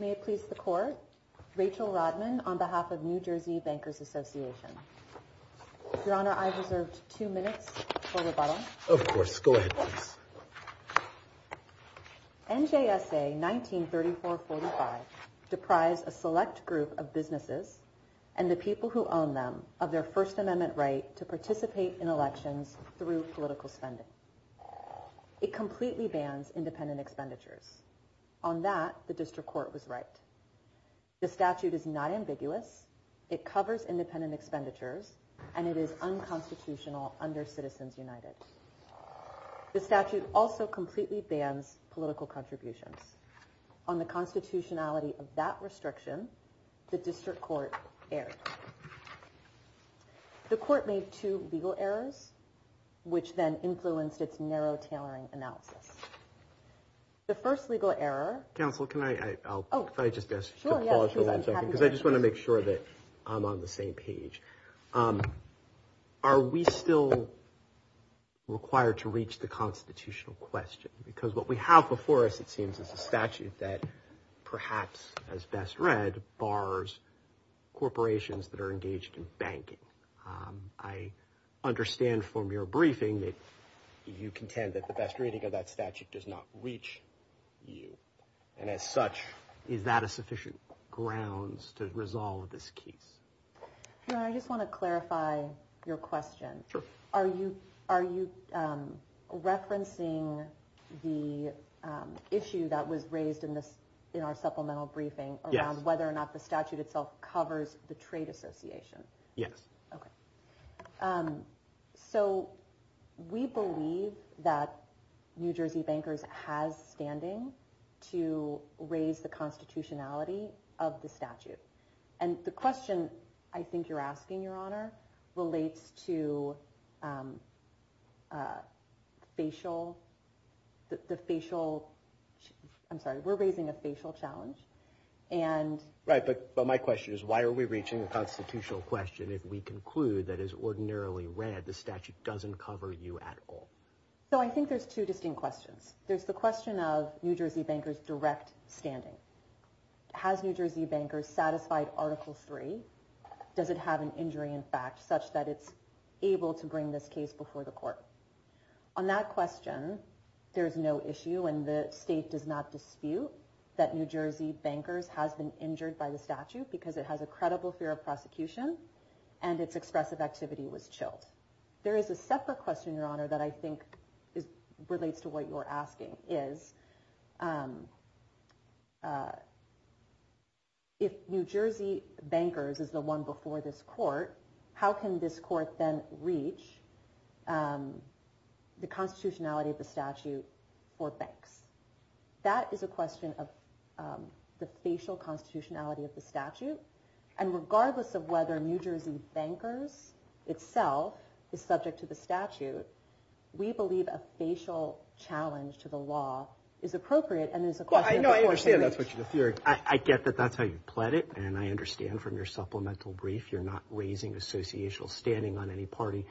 May it please the Court, Rachel Rodman, on behalf of New Jersey Bankers Association. Your Honor, I've reserved two minutes for rebuttal. Of course. Go ahead, please. NJSA 1934-45 deprised a select group of businesses and the people who own them of their First Amendment right to participate in elections through political spending. It completely bans independent expenditures. On that, the District Court was right. The statute is not ambiguous, it covers independent expenditures, and it is unconstitutional under Citizens United. The statute also completely bans political contributions. On the constitutionality of that restriction, the District Court erred. The Court made two legal errors, which then influenced its narrow tailoring analysis. The first legal error. Counsel, can I? Oh, I just guess. Because I just want to make sure that I'm on the same page. Are we still required to reach the constitutional question? Because what we have before us, it seems, is a statute that perhaps as best read bars corporations that are engaged in banking. I understand from your briefing that you contend that the best reading of that statute does not reach you. And as such, is that a sufficient grounds to resolve this case? Your Honor, I just want to clarify your question. Sure. Are you are you referencing the issue that was raised in this in our supplemental briefing? Yes. Whether or not the statute itself covers the trade association? Yes. OK. So we believe that New Jersey Bankers has standing to raise the constitutionality of the statute. And the question I think you're asking, Your Honor, relates to facial. The facial. I'm sorry. We're raising a facial challenge. Right. But my question is, why are we reaching a constitutional question if we conclude that is ordinarily read the statute doesn't cover you at all? So I think there's two distinct questions. There's the question of New Jersey Bankers direct standing. Has New Jersey Bankers satisfied Article 3? Does it have an injury in fact such that it's able to bring this case before the court? On that question, there is no issue and the state does not dispute that New Jersey Bankers has been injured by the statute because it has a credible fear of prosecution and its expressive activity was chilled. There is a separate question, Your Honor, that I think relates to what you're asking. If New Jersey Bankers is the one before this court, how can this court then reach the constitutionality of the statute for banks? That is a question of the facial constitutionality of the statute. And regardless of whether New Jersey Bankers itself is subject to the statute, we believe a facial challenge to the law is appropriate and is a question of the court hearing. Well, I know I understand that's what you're fearing. I get that that's how you pled it, and I understand from your supplemental brief you're not raising associational standing on any party,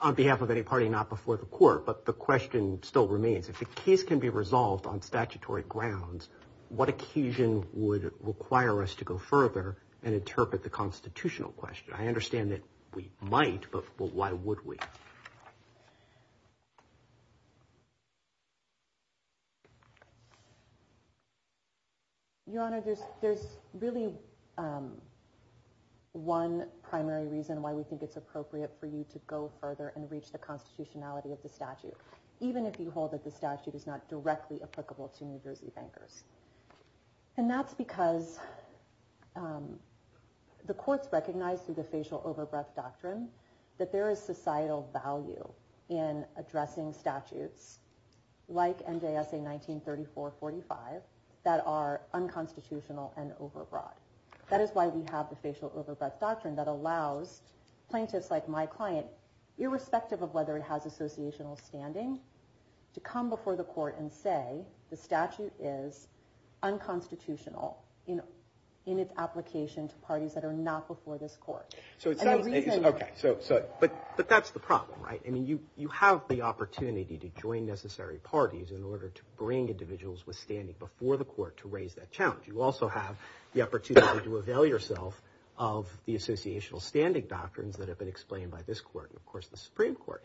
on behalf of any party, not before the court. But the question still remains, if the case can be resolved on statutory grounds, what occasion would require us to go further and interpret the constitutional question? I understand that we might, but why would we? Your Honor, there's really one primary reason why we think it's appropriate for you to go further and reach the constitutionality of the statute, even if you hold that the statute is not directly applicable to New Jersey Bankers. And that's because the courts recognize through the facial overbreath doctrine that there is societal value in addressing statutes like NJSA 1934-45 that are unconstitutional and overbroad. That is why we have the facial overbreath doctrine that allows plaintiffs like my client, irrespective of whether it has associational standing, to come before the court and say the statute is unconstitutional in its application to parties that are not before this court. But that's the problem, right? You have the opportunity to join necessary parties in order to bring individuals withstanding before the court to raise that challenge. You also have the opportunity to avail yourself of the associational standing doctrines that have been explained by this court and, of course, the Supreme Court.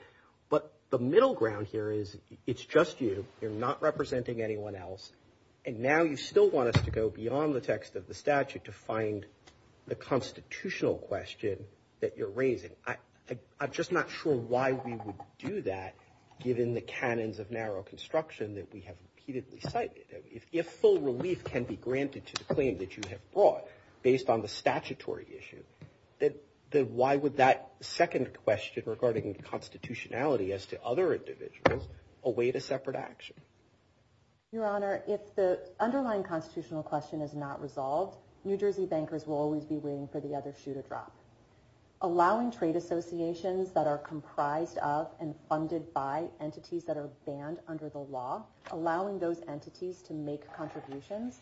But the middle ground here is it's just you. You're not representing anyone else. And now you still want us to go beyond the text of the statute to find the constitutional question that you're raising. I'm just not sure why we would do that, given the canons of narrow construction that we have repeatedly cited. If full relief can be granted to the claim that you have brought based on the statutory issue, then why would that second question regarding constitutionality as to other individuals await a separate action? Your Honor, if the underlying constitutional question is not resolved, New Jersey bankers will always be waiting for the other shoe to drop. Allowing trade associations that are comprised of and funded by entities that are banned under the law, allowing those entities to make contributions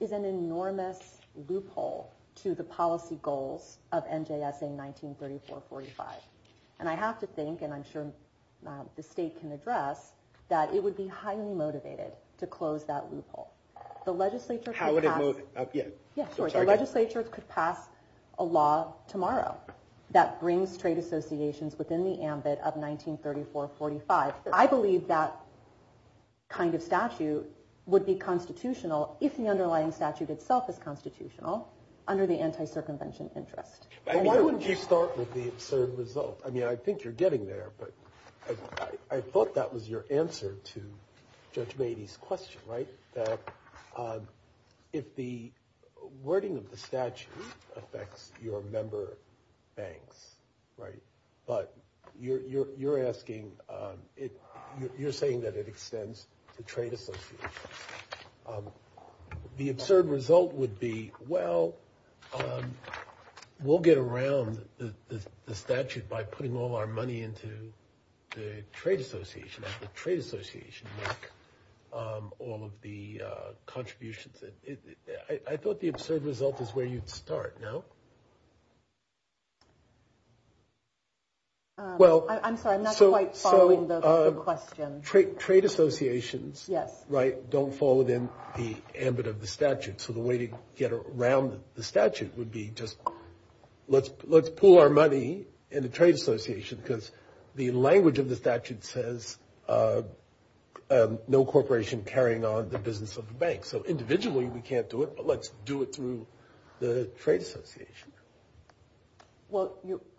is an enormous loophole to the policy goals of NJSA 1934-45. And I have to think, and I'm sure the state can address, that it would be highly motivated to close that loophole. The legislature could pass a law tomorrow that brings trade associations within the ambit of 1934-45. I believe that kind of statute would be constitutional if the underlying statute itself is constitutional under the anti-circumvention interest. Why don't you start with the absurd result? I mean, I think you're getting there, but I thought that was your answer to Judge Beatty's question, right? That if the wording of the statute affects your member banks, right? But you're asking, you're saying that it extends to trade associations. The absurd result would be, well, we'll get around the statute by putting all our money into the trade association. The trade association would make all of the contributions. I thought the absurd result is where you'd start, no? Well, I'm sorry, I'm not quite following the question. Trade associations, right, don't fall within the ambit of the statute. So the way to get around the statute would be just let's pool our money in the trade association because the language of the statute says no corporation carrying on the business of the bank. So individually we can't do it, but let's do it through the trade association. Well,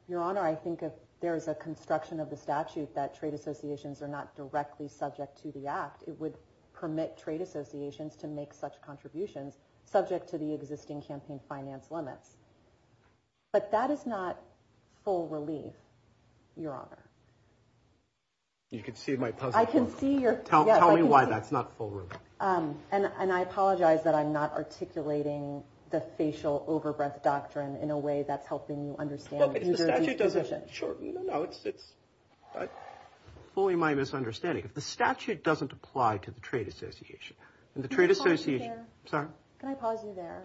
Your Honor, I think if there is a construction of the statute that trade associations are not directly subject to the act, it would permit trade associations to make such contributions subject to the existing campaign finance limits. But that is not full relief, Your Honor. You can see my puzzle. I can see your. Tell me why that's not forward. And I apologize that I'm not articulating the facial overbreath doctrine in a way that's helping you understand. The statute doesn't shorten. No, it's fully my misunderstanding. If the statute doesn't apply to the trade association and the trade association. Can I pause you there?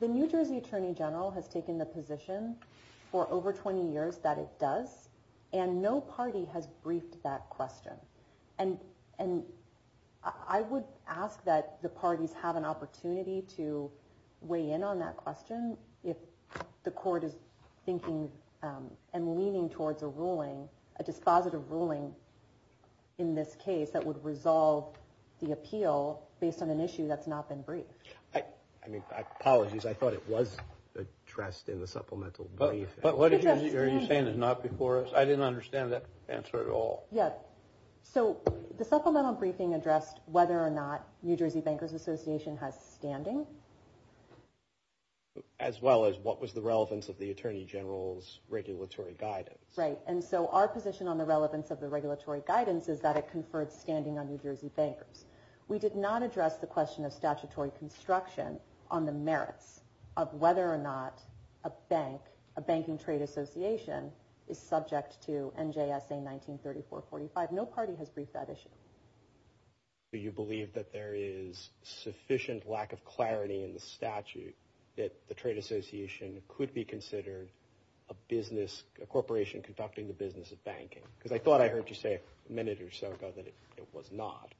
The New Jersey Attorney General has taken the position for over 20 years that it does, and no party has briefed that question. And I would ask that the parties have an opportunity to weigh in on that question if the court is thinking and leaning towards a ruling, a dispositive ruling in this case that would resolve the appeal based on an issue that's not been briefed. I mean, apologies. I thought it was addressed in the supplemental brief. But what are you saying is not before us? I didn't understand that answer at all. Yeah. So the supplemental briefing addressed whether or not New Jersey Bankers Association has standing. As well as what was the relevance of the attorney general's regulatory guidance. Right. And so our position on the relevance of the regulatory guidance is that it conferred standing on New Jersey Bankers. We did not address the question of statutory construction on the merits of whether or not a bank, a banking trade association is subject to NJSA 1934-45. No party has briefed that issue. Do you believe that there is sufficient lack of clarity in the statute that the trade association could be considered a business, a corporation conducting the business of banking? Because I thought I heard you say a minute or so ago that it was not.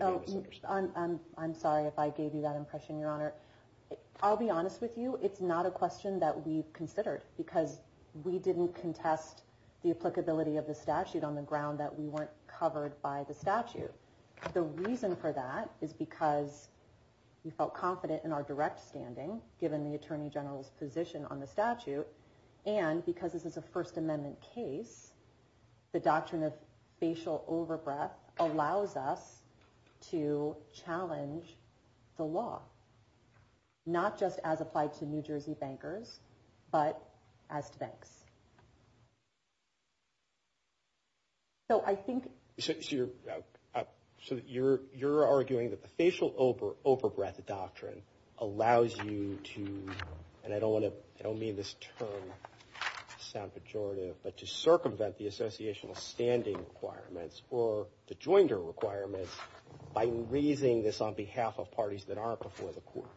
I'm sorry if I gave you that impression, Your Honor. I'll be honest with you. It's not a question that we considered because we didn't contest the applicability of the statute on the ground that we weren't covered by the statute. The reason for that is because we felt confident in our direct standing, given the attorney general's position on the statute. And because this is a First Amendment case, the doctrine of facial overbreath allows us to challenge the law, not just as applied to New Jersey bankers, but as to banks. So I think... So you're arguing that the facial overbreath doctrine allows you to, and I don't want to, I don't mean this term to sound pejorative, but to circumvent the associational standing requirements or the joinder requirements by raising this on behalf of parties that aren't before the court.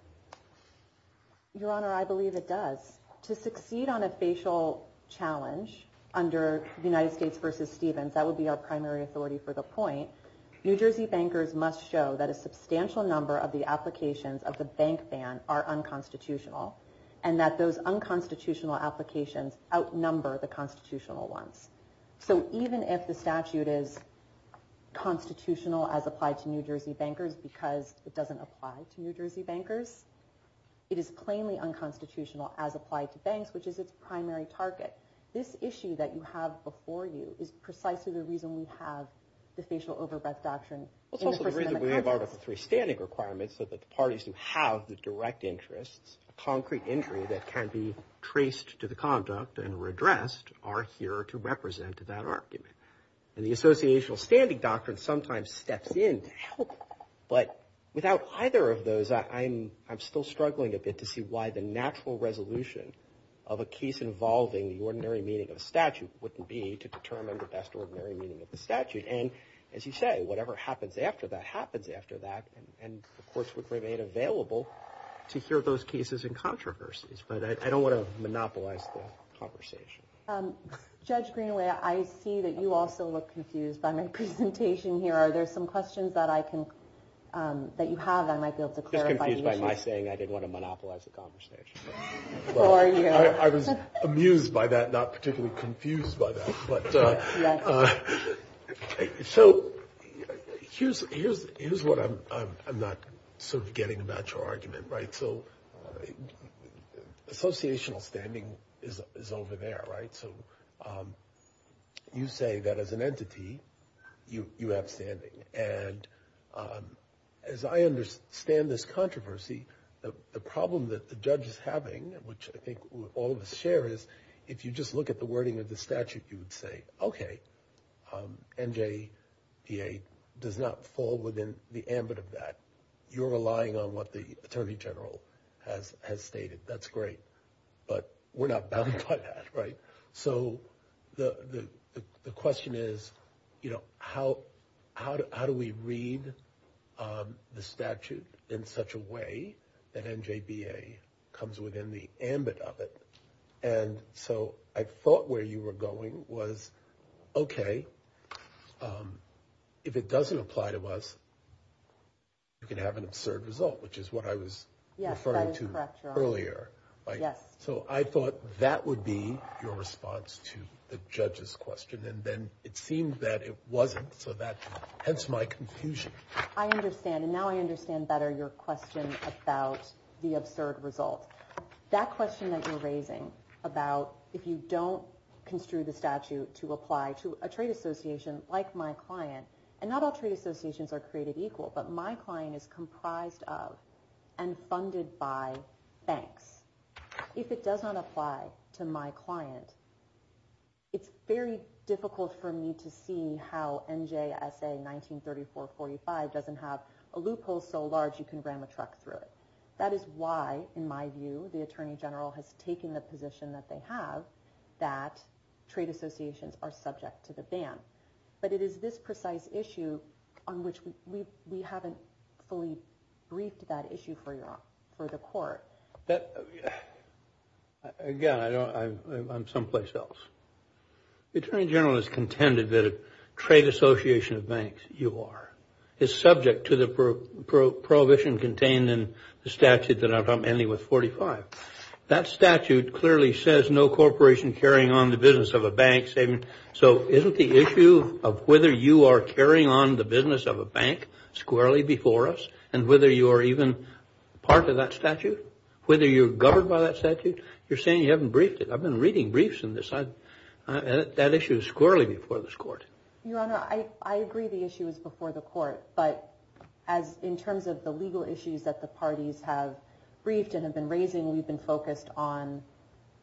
Your Honor, I believe it does. To succeed on a facial challenge under the United States v. Stevens, that would be our primary authority for the point, New Jersey bankers must show that a substantial number of the applications of the bank ban are unconstitutional, and that those unconstitutional applications outnumber the constitutional ones. So even if the statute is constitutional as applied to New Jersey bankers because it doesn't apply to New Jersey bankers, it is plainly unconstitutional as applied to banks, which is its primary target. This issue that you have before you is precisely the reason we have the facial overbreath doctrine. It's also the reason we have Article III standing requirements, so that the parties who have the direct interests, a concrete injury that can be traced to the conduct and redressed, are here to represent that argument. And the associational standing doctrine sometimes steps in to help, but without either of those, I'm still struggling a bit to see why the natural resolution of a case involving the ordinary meaning of a statute wouldn't be to determine the best ordinary meaning of the statute. And as you say, whatever happens after that happens after that, and the courts would remain available to hear those cases and controversies, but I don't want to monopolize the conversation. Judge Greenaway, I see that you also look confused by my presentation here. Are there some questions that you have that I might be able to clarify? Just confused by my saying I didn't want to monopolize the conversation. I was amused by that, not particularly confused by that. So here's what I'm not sort of getting about your argument. Right, so associational standing is over there, right? So you say that as an entity, you have standing. And as I understand this controversy, the problem that the judge is having, which I think all of us share, is if you just look at the wording of the statute, you would say, okay, NJPA does not fall within the ambit of that. You're relying on what the attorney general has stated. That's great, but we're not bound by that, right? So the question is, you know, how do we read the statute in such a way that NJPA comes within the ambit of it? And so I thought where you were going was, okay, but if it doesn't apply to us, you can have an absurd result, which is what I was referring to earlier. So I thought that would be your response to the judge's question, and then it seemed that it wasn't, so hence my confusion. I understand, and now I understand better your question about the absurd result. That question that you're raising about if you don't construe the statute to apply to a trade association like my client, and not all trade associations are created equal, but my client is comprised of and funded by banks. If it does not apply to my client, it's very difficult for me to see how NJSA 1934-45 doesn't have a loophole so large you can ram a truck through it. That is why, in my view, the attorney general has taken the position that they have that trade associations are subject to the ban. But it is this precise issue on which we haven't fully briefed that issue for the court. Again, I'm someplace else. The attorney general has contended that a trade association of banks, UR, is subject to the prohibition contained in the statute that I'm ending with 45. That statute clearly says no corporation carrying on the business of a bank. So isn't the issue of whether you are carrying on the business of a bank squarely before us and whether you're even part of that statute, whether you're governed by that statute, you're saying you haven't briefed it. I've been reading briefs in this. That issue is squarely before this court. Your Honor, I agree the issue is before the court, but in terms of the legal issues that the parties have briefed and have been raising, we've been focused on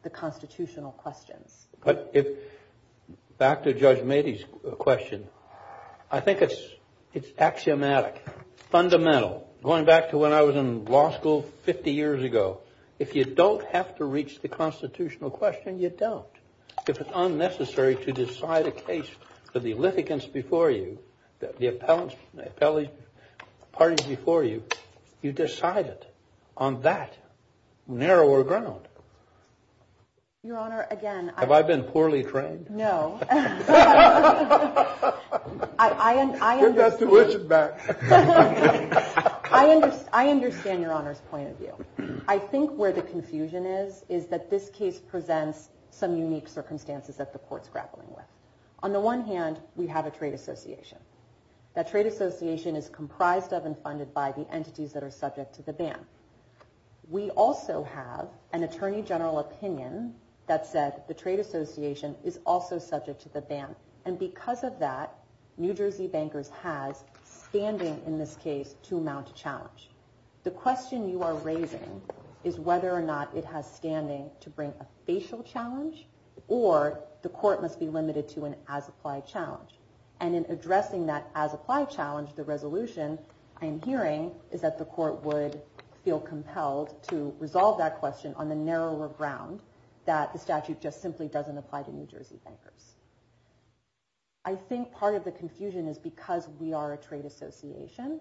the constitutional questions. But back to Judge Mady's question, I think it's axiomatic, fundamental, going back to when I was in law school 50 years ago. If you don't have to reach the constitutional question, you don't. If it's unnecessary to decide a case for the litigants before you, the appellate parties before you, you decide it on that narrower ground. Your Honor, again. Have I been poorly trained? No. Get that tuition back. I understand Your Honor's point of view. I think where the confusion is is that this case presents some unique circumstances that the court's grappling with. On the one hand, we have a trade association. That trade association is comprised of and funded by the entities that are subject to the ban. We also have an attorney general opinion that said the trade association is also subject to the ban. And because of that, New Jersey Bankers has standing in this case to amount to challenge. The question you are raising is whether or not it has standing to bring a facial challenge or the court must be limited to an as-applied challenge. And in addressing that as-applied challenge, the resolution I am hearing is that the court would feel compelled to resolve that question on the narrower ground that the statute just simply doesn't apply to New Jersey Bankers. I think part of the confusion is because we are a trade association,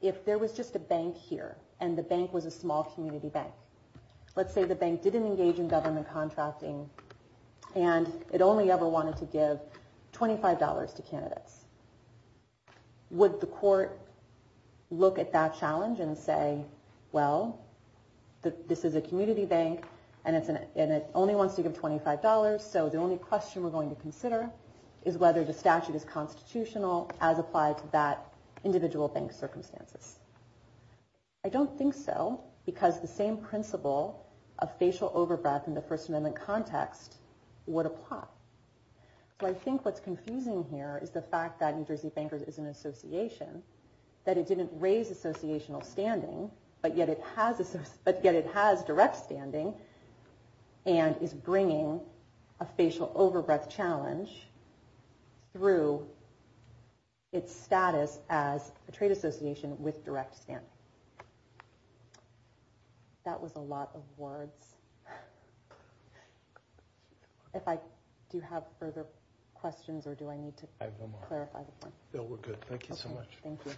if there was just a bank here and the bank was a small community bank, let's say the bank didn't engage in government contracting and it only ever wanted to give $25 to candidates, would the court look at that challenge and say, well, this is a community bank and it only wants to give $25, so the only question we are going to consider is whether the statute is constitutional as applied to that individual bank's circumstances. I don't think so because the same principle of facial over-breath in the First Amendment context would apply. So I think what's confusing here is the fact that New Jersey Bankers is an association, that it didn't raise associational standing, but yet it has direct standing and is bringing a facial over-breath challenge through its status as a trade association with direct standing. That was a lot of words. Do you have further questions or do I need to clarify? No, we're good. Thank you so much. Thank you.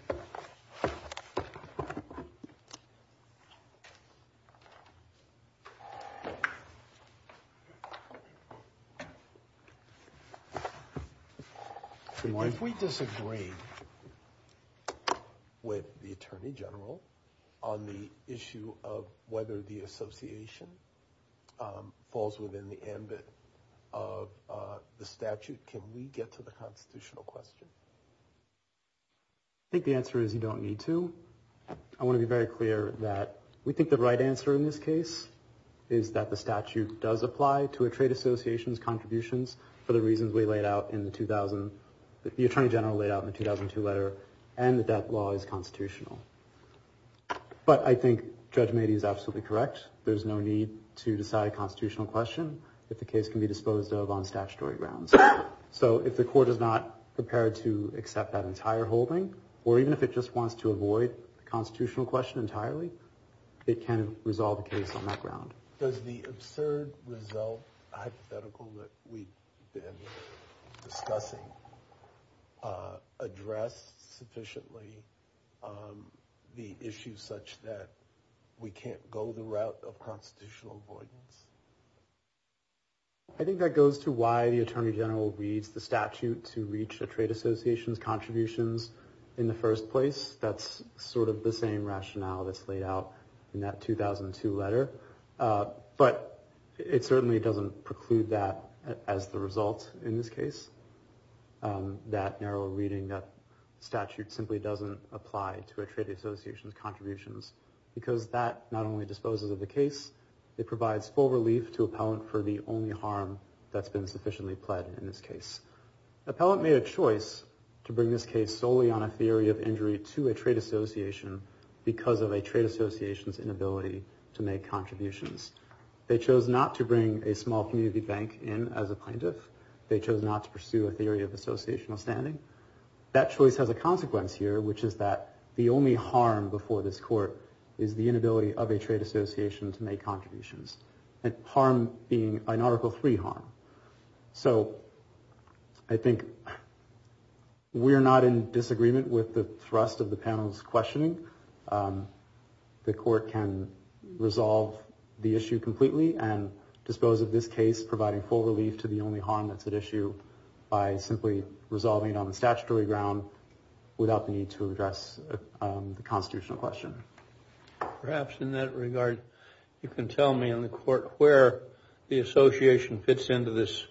If we disagree with the Attorney General on the issue of whether the association falls within the ambit of the statute, can we get to the constitutional question? I think the answer is you don't need to. I want to be very clear that we think the right answer in this case is that the statute does apply to a trade association's contributions for the reasons the Attorney General laid out in the 2002 letter and the death law is constitutional. But I think Judge Mady is absolutely correct. There's no need to decide a constitutional question if the case can be disposed of on statutory grounds. So if the court is not prepared to accept that entire holding or even if it just wants to avoid the constitutional question entirely, it can resolve the case on that ground. Does the absurd result hypothetical that we've been discussing address sufficiently the issue such that we can't go the route of constitutional avoidance? I think that goes to why the Attorney General reads the statute to reach a trade association's contributions in the first place. That's sort of the same rationale that's laid out in that 2002 letter. But it certainly doesn't preclude that as the result in this case. That narrow reading that statute simply doesn't apply to a trade association's contributions because that not only disposes of the case, it provides full relief to appellant for the only harm that's been sufficiently pled in this case. Appellant made a choice to bring this case solely on a theory of injury to a trade association because of a trade association's inability to make contributions. They chose not to bring a small community bank in as a plaintiff. They chose not to pursue a theory of associational standing. That choice has a consequence here, which is that the only harm before this court is the inability of a trade association to make contributions. Harm being an Article III harm. So I think we're not in disagreement with the thrust of the panel's questioning. The court can resolve the issue completely and dispose of this case providing full relief to the only harm that's at issue by simply resolving it on the statutory ground without the need to address the constitutional question. Perhaps in that regard, you can tell me in the court where the association fits into this...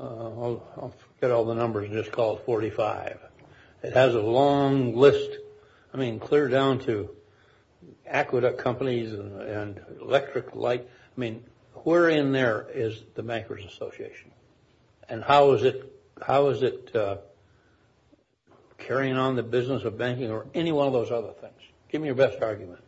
I'll forget all the numbers and just call it 45. It has a long list. I mean, clear down to aqueduct companies and electric light. I mean, where in there is the Bankers Association? And how is it carrying on the business of banking or any one of those other things? Give me your best argument.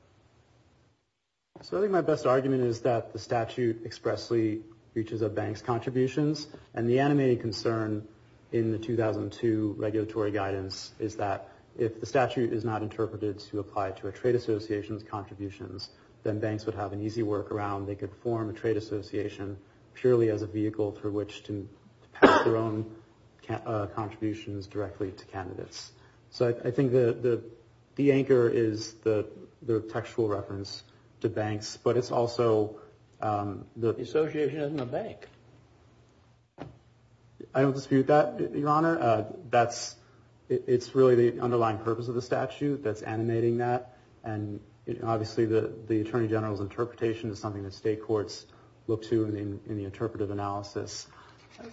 So I think my best argument is that the statute expressly reaches a bank's contributions, and the animated concern in the 2002 regulatory guidance is that if the statute is not interpreted to apply to a trade association's contributions, then banks would have an easy workaround. They could form a trade association purely as a vehicle for which to pass their own contributions directly to candidates. So I think the anchor is the textual reference to banks, but it's also the... The association isn't a bank. I don't dispute that, Your Honor. It's really the underlying purpose of the statute that's animating that, and obviously the Attorney General's interpretation is something that state courts look to in the interpretive analysis.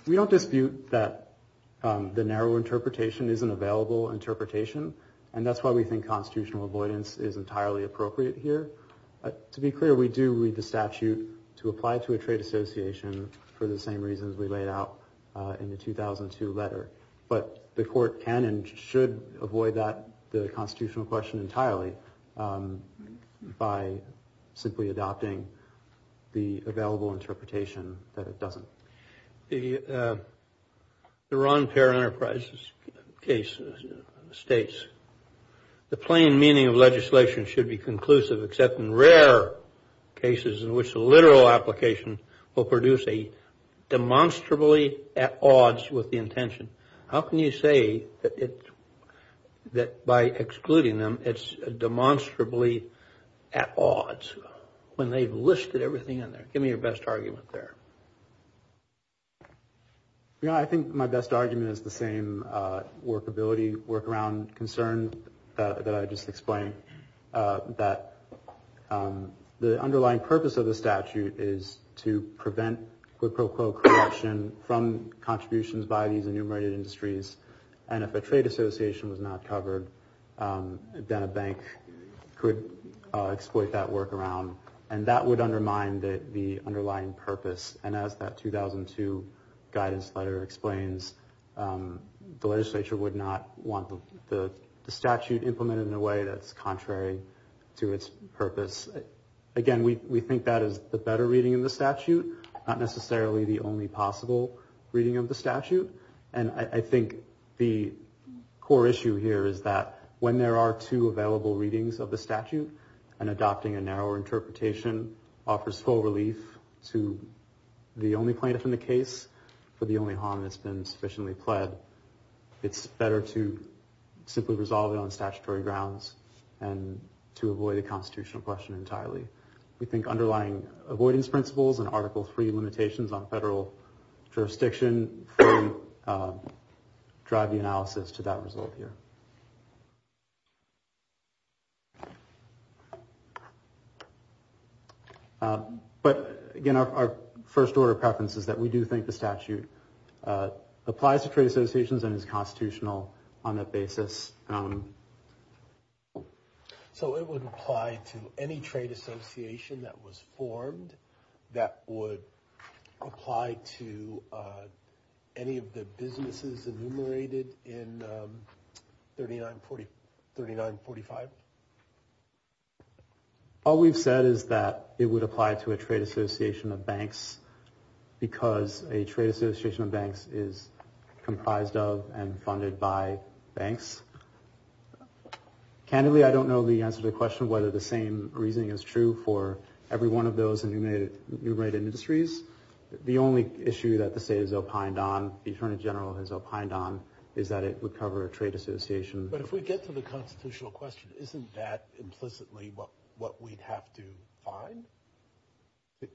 We don't dispute that the narrow interpretation is an available interpretation, and that's why we think constitutional avoidance is entirely appropriate here. To be clear, we do read the statute to apply to a trade association for the same reasons we laid out in the 2002 letter, but the court can and should avoid that, the constitutional question entirely, by simply adopting the available interpretation that it doesn't. The Ron Peer Enterprises case states, the plain meaning of legislation should be conclusive except in rare cases in which the literal application will produce a demonstrably at odds with the intention. How can you say that by excluding them, it's demonstrably at odds when they've listed everything in there? Give me your best argument there. Your Honor, I think my best argument is the same workability, workaround concern that I just explained, that the underlying purpose of the statute is to prevent quid pro quo corruption from contributions by these enumerated industries, and if a trade association was not covered, then a bank could exploit that workaround, and that would undermine the underlying purpose, and as that 2002 guidance letter explains, the legislature would not want the statute implemented in a way that's contrary to its purpose. Again, we think that is the better reading in the statute, not necessarily the only possible reading of the statute, and I think the core issue here is that when there are two available readings of the statute, and adopting a narrower interpretation offers full relief to the only plaintiff in the case, for the only harm that's been sufficiently pled, it's better to simply resolve it on statutory grounds, and to avoid the constitutional question entirely. We think underlying avoidance principles and Article III limitations on federal jurisdiction drive the analysis to that result here. But again, our first order of preference is that we do think the statute applies to trade associations and is constitutional on that basis. So it would apply to any trade association that was formed that would apply to any of the businesses enumerated in 3945? All we've said is that it would apply to a trade association of banks because a trade association of banks is comprised of and funded by banks. Candidly, I don't know the answer to the question whether the same reasoning is true for every one of those enumerated industries. The only issue that the state has opined on, the Attorney General has opined on, is that it would cover a trade association. But if we get to the constitutional question, isn't that implicitly what we'd have to find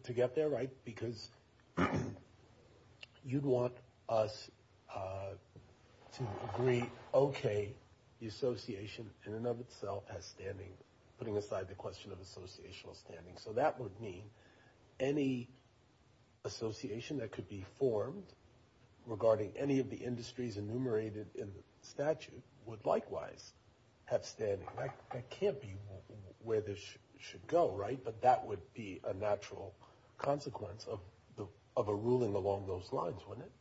to get there, right? Because you'd want us to agree, okay, the association in and of itself has standing, putting aside the question of associational standing. So that would mean any association that could be formed regarding any of the industries enumerated in the statute would likewise have standing. That can't be where this should go, right? But that would be a natural consequence of a ruling along those lines, wouldn't it?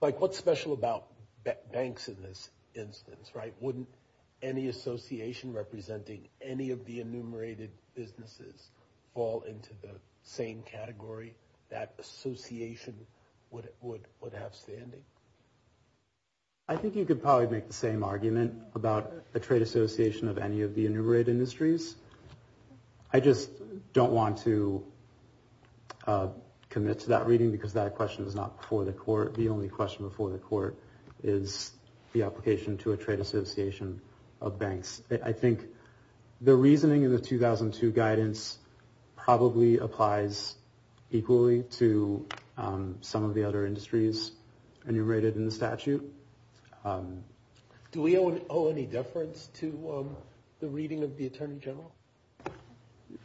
Like what's special about banks in this instance, right? Wouldn't any association representing any of the enumerated businesses fall into the same category that association would have standing? I think you could probably make the same argument about a trade association of any of the enumerated industries. I just don't want to commit to that reading because that question is not before the court. The only question before the court is the application to a trade association of banks. I think the reasoning in the 2002 guidance probably applies equally to some of the other industries enumerated in the statute. Do we owe any deference to the reading of the Attorney General?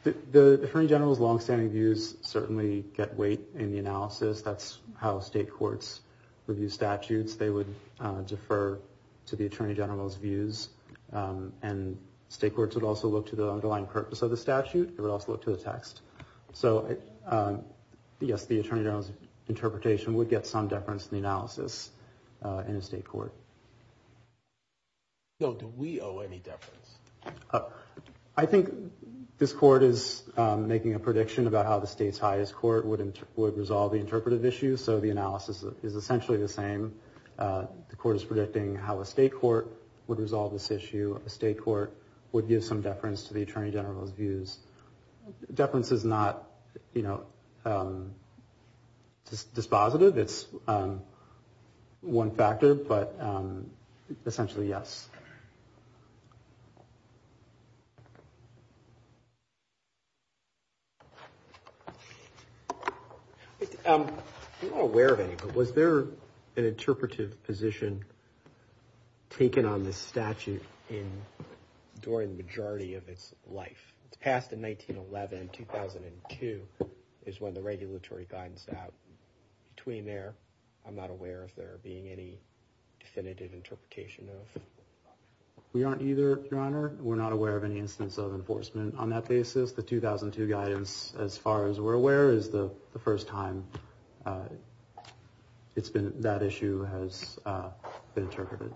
The Attorney General's longstanding views certainly get weight in the analysis. That's how state courts review statutes. They would defer to the Attorney General's views. And state courts would also look to the underlying purpose of the statute. They would also look to the text. So, yes, the Attorney General's interpretation would get some deference in the analysis in a state court. So do we owe any deference? I think this court is making a prediction about how the state's highest court would resolve the interpretive issue. So the analysis is essentially the same. The court is predicting how a state court would resolve this issue. A state court would give some deference to the Attorney General's views. Deference is not dispositive. It's one factor, but essentially, yes. I'm not aware of any, but was there an interpretive position taken on this statute during the majority of its life? It's passed in 1911. 2002 is when the regulatory guidance is out. Between there, I'm not aware of there being any definitive interpretation of it. We aren't either, Your Honor. We're not aware of any instance of enforcement on that basis. The 2002 guidance, as far as we're aware, is the first time that issue has been interpreted.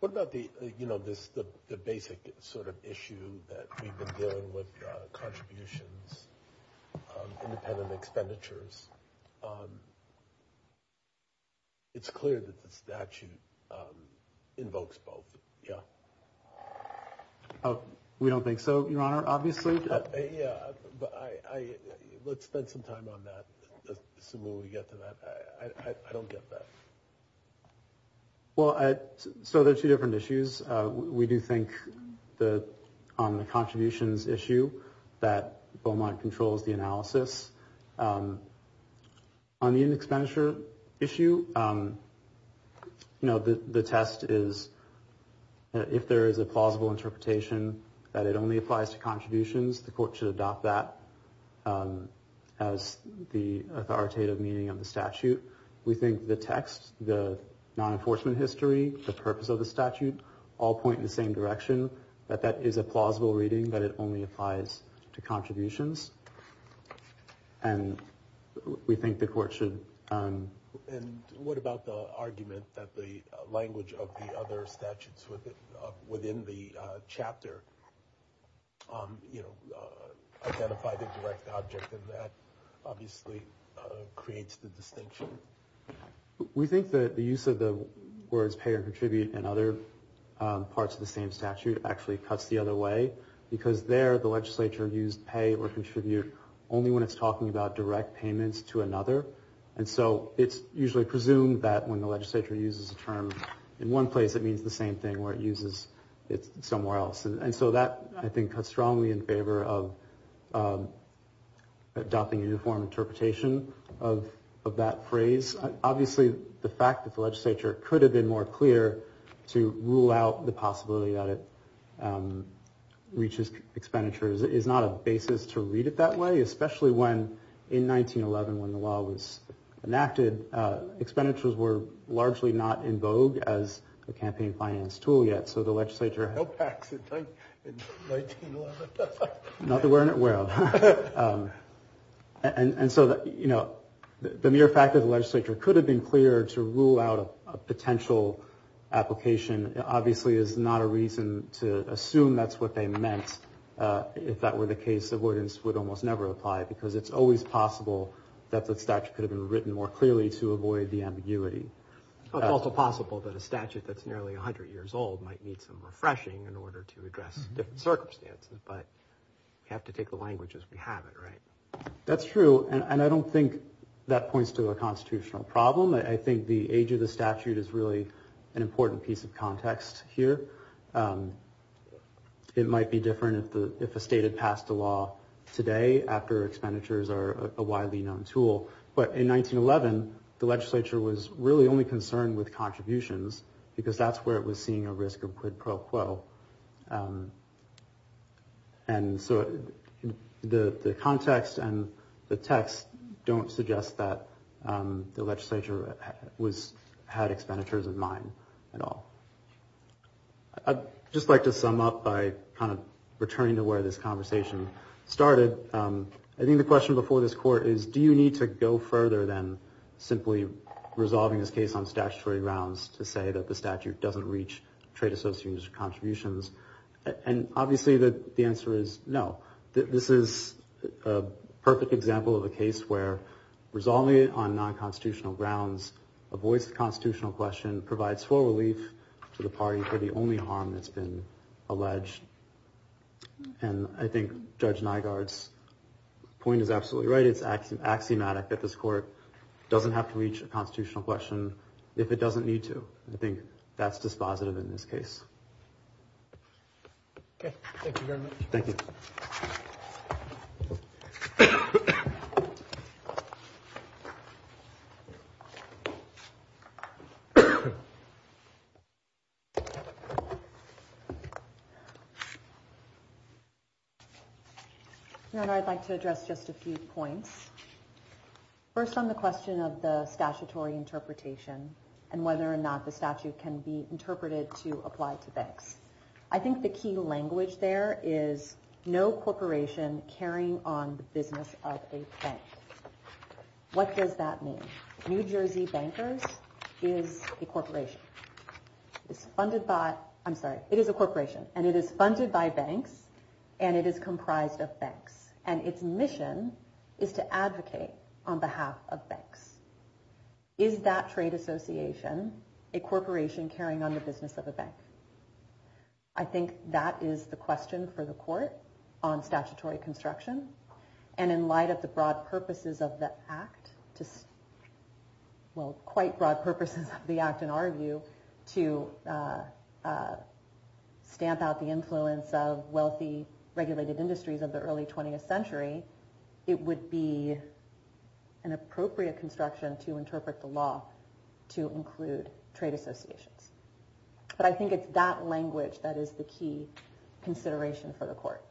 What about the, you know, the basic sort of issue that we've been dealing with, contributions, independent expenditures? It's clear that the statute invokes both. Yeah. We don't think so, Your Honor, obviously. Yeah, but let's spend some time on that. As soon as we get to that. I don't get that. Well, so there are two different issues. We do think that on the contributions issue that Beaumont controls the analysis. On the expenditure issue, you know, the test is if there is a plausible interpretation that it only applies to contributions, the court should adopt that as the authoritative meaning of the statute. We think the text, the non-enforcement history, the purpose of the statute all point in the same direction, that that is a plausible reading, that it only applies to contributions. And we think the court should. And what about the argument that the language of the other statutes within the chapter, you know, identify the direct object and that obviously creates the distinction. We think that the use of the words pay or contribute and other parts of the same statute actually cuts the other way, because there the legislature used pay or contribute only when it's talking about direct payments to another. And so it's usually presumed that when the legislature uses a term in one place, it means the same thing where it uses it somewhere else. And so that, I think, cuts strongly in favor of adopting a uniform interpretation of that phrase. Obviously, the fact that the legislature could have been more clear to rule out the possibility that it reaches expenditures is not a basis to read it that way, especially when in 1911, when the law was enacted, expenditures were largely not in vogue as a campaign finance tool yet. And so the legislature... No PACs in 1911. Not that we're unaware of. And so, you know, the mere fact that the legislature could have been clear to rule out a potential application obviously is not a reason to assume that's what they meant. If that were the case, avoidance would almost never apply, because it's always possible that the statute could have been written more clearly to avoid the ambiguity. It's also possible that a statute that's nearly 100 years old might need some refreshing in order to address different circumstances. But we have to take the language as we have it, right? That's true. And I don't think that points to a constitutional problem. I think the age of the statute is really an important piece of context here. It might be different if a state had passed a law today after expenditures are a widely known tool. But in 1911, the legislature was really only concerned with contributions, because that's where it was seeing a risk of quid pro quo. And so the context and the text don't suggest that the legislature had expenditures in mind at all. I'd just like to sum up by kind of returning to where this conversation started. I think the question before this court is, do you need to go further than simply resolving this case on statutory grounds to say that the statute doesn't reach trade associates' contributions? And obviously the answer is no. This is a perfect example of a case where resolving it on non-constitutional grounds avoids the constitutional question, provides full relief to the party for the only harm that's been alleged. And I think Judge Nygaard's point is absolutely right. It's axiomatic that this court doesn't have to reach a constitutional question if it doesn't need to. I think that's dispositive in this case. Okay. Thank you very much. Thank you. Your Honor, I'd like to address just a few points. First on the question of the statutory interpretation and whether or not the statute can be interpreted to apply to banks. I think the key language there is no corporation carrying on the business of a bank. What does that mean? New Jersey Bankers is a corporation. It is funded by – I'm sorry. It is a corporation and it is funded by banks and it is comprised of banks. And its mission is to advocate on behalf of banks. Is that trade association a corporation carrying on the business of a bank? I think that is the question for the court on statutory construction. And in light of the broad purposes of the Act, well, quite broad purposes of the Act in our view, to stamp out the influence of wealthy regulated industries of the early 20th century, it would be an appropriate construction to interpret the law to include trade associations. But I think it's that language that is the key consideration for the court.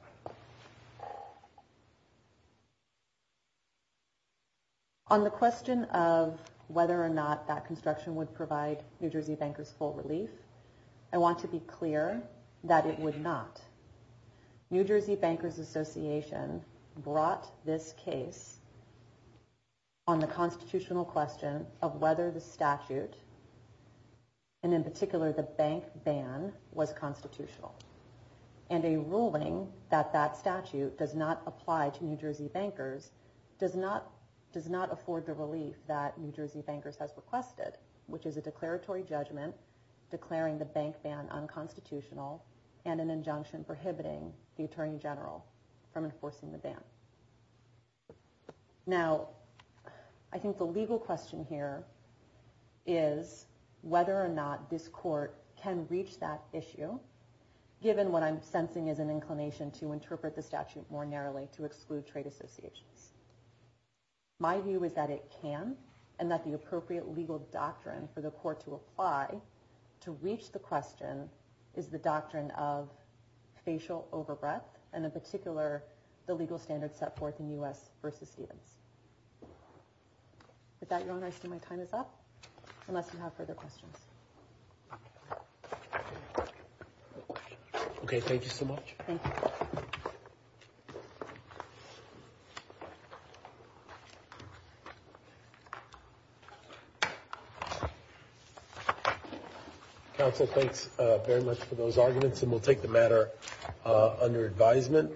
On the question of whether or not that construction would provide New Jersey Bankers full relief, I want to be clear that it would not. New Jersey Bankers Association brought this case on the constitutional question of whether the statute, and in particular the bank ban, was constitutional. And a ruling that that statute does not apply to New Jersey Bankers does not afford the relief that New Jersey Bankers has requested, which is a declaratory judgment declaring the bank ban unconstitutional and an injunction prohibiting the Attorney General from enforcing the ban. Now, I think the legal question here is whether or not this court can reach that issue, given what I'm sensing is an inclination to interpret the statute more narrowly to exclude trade associations. My view is that it can, and that the appropriate legal doctrine for the court to apply to reach the question is the doctrine of facial overbreath, and in particular the legal standards set forth in U.S. v. Stevens. With that, Your Honor, I assume my time is up, unless you have further questions. Okay, thank you so much. Thank you. Counsel, thanks very much for those arguments, and we'll take the matter under advisement.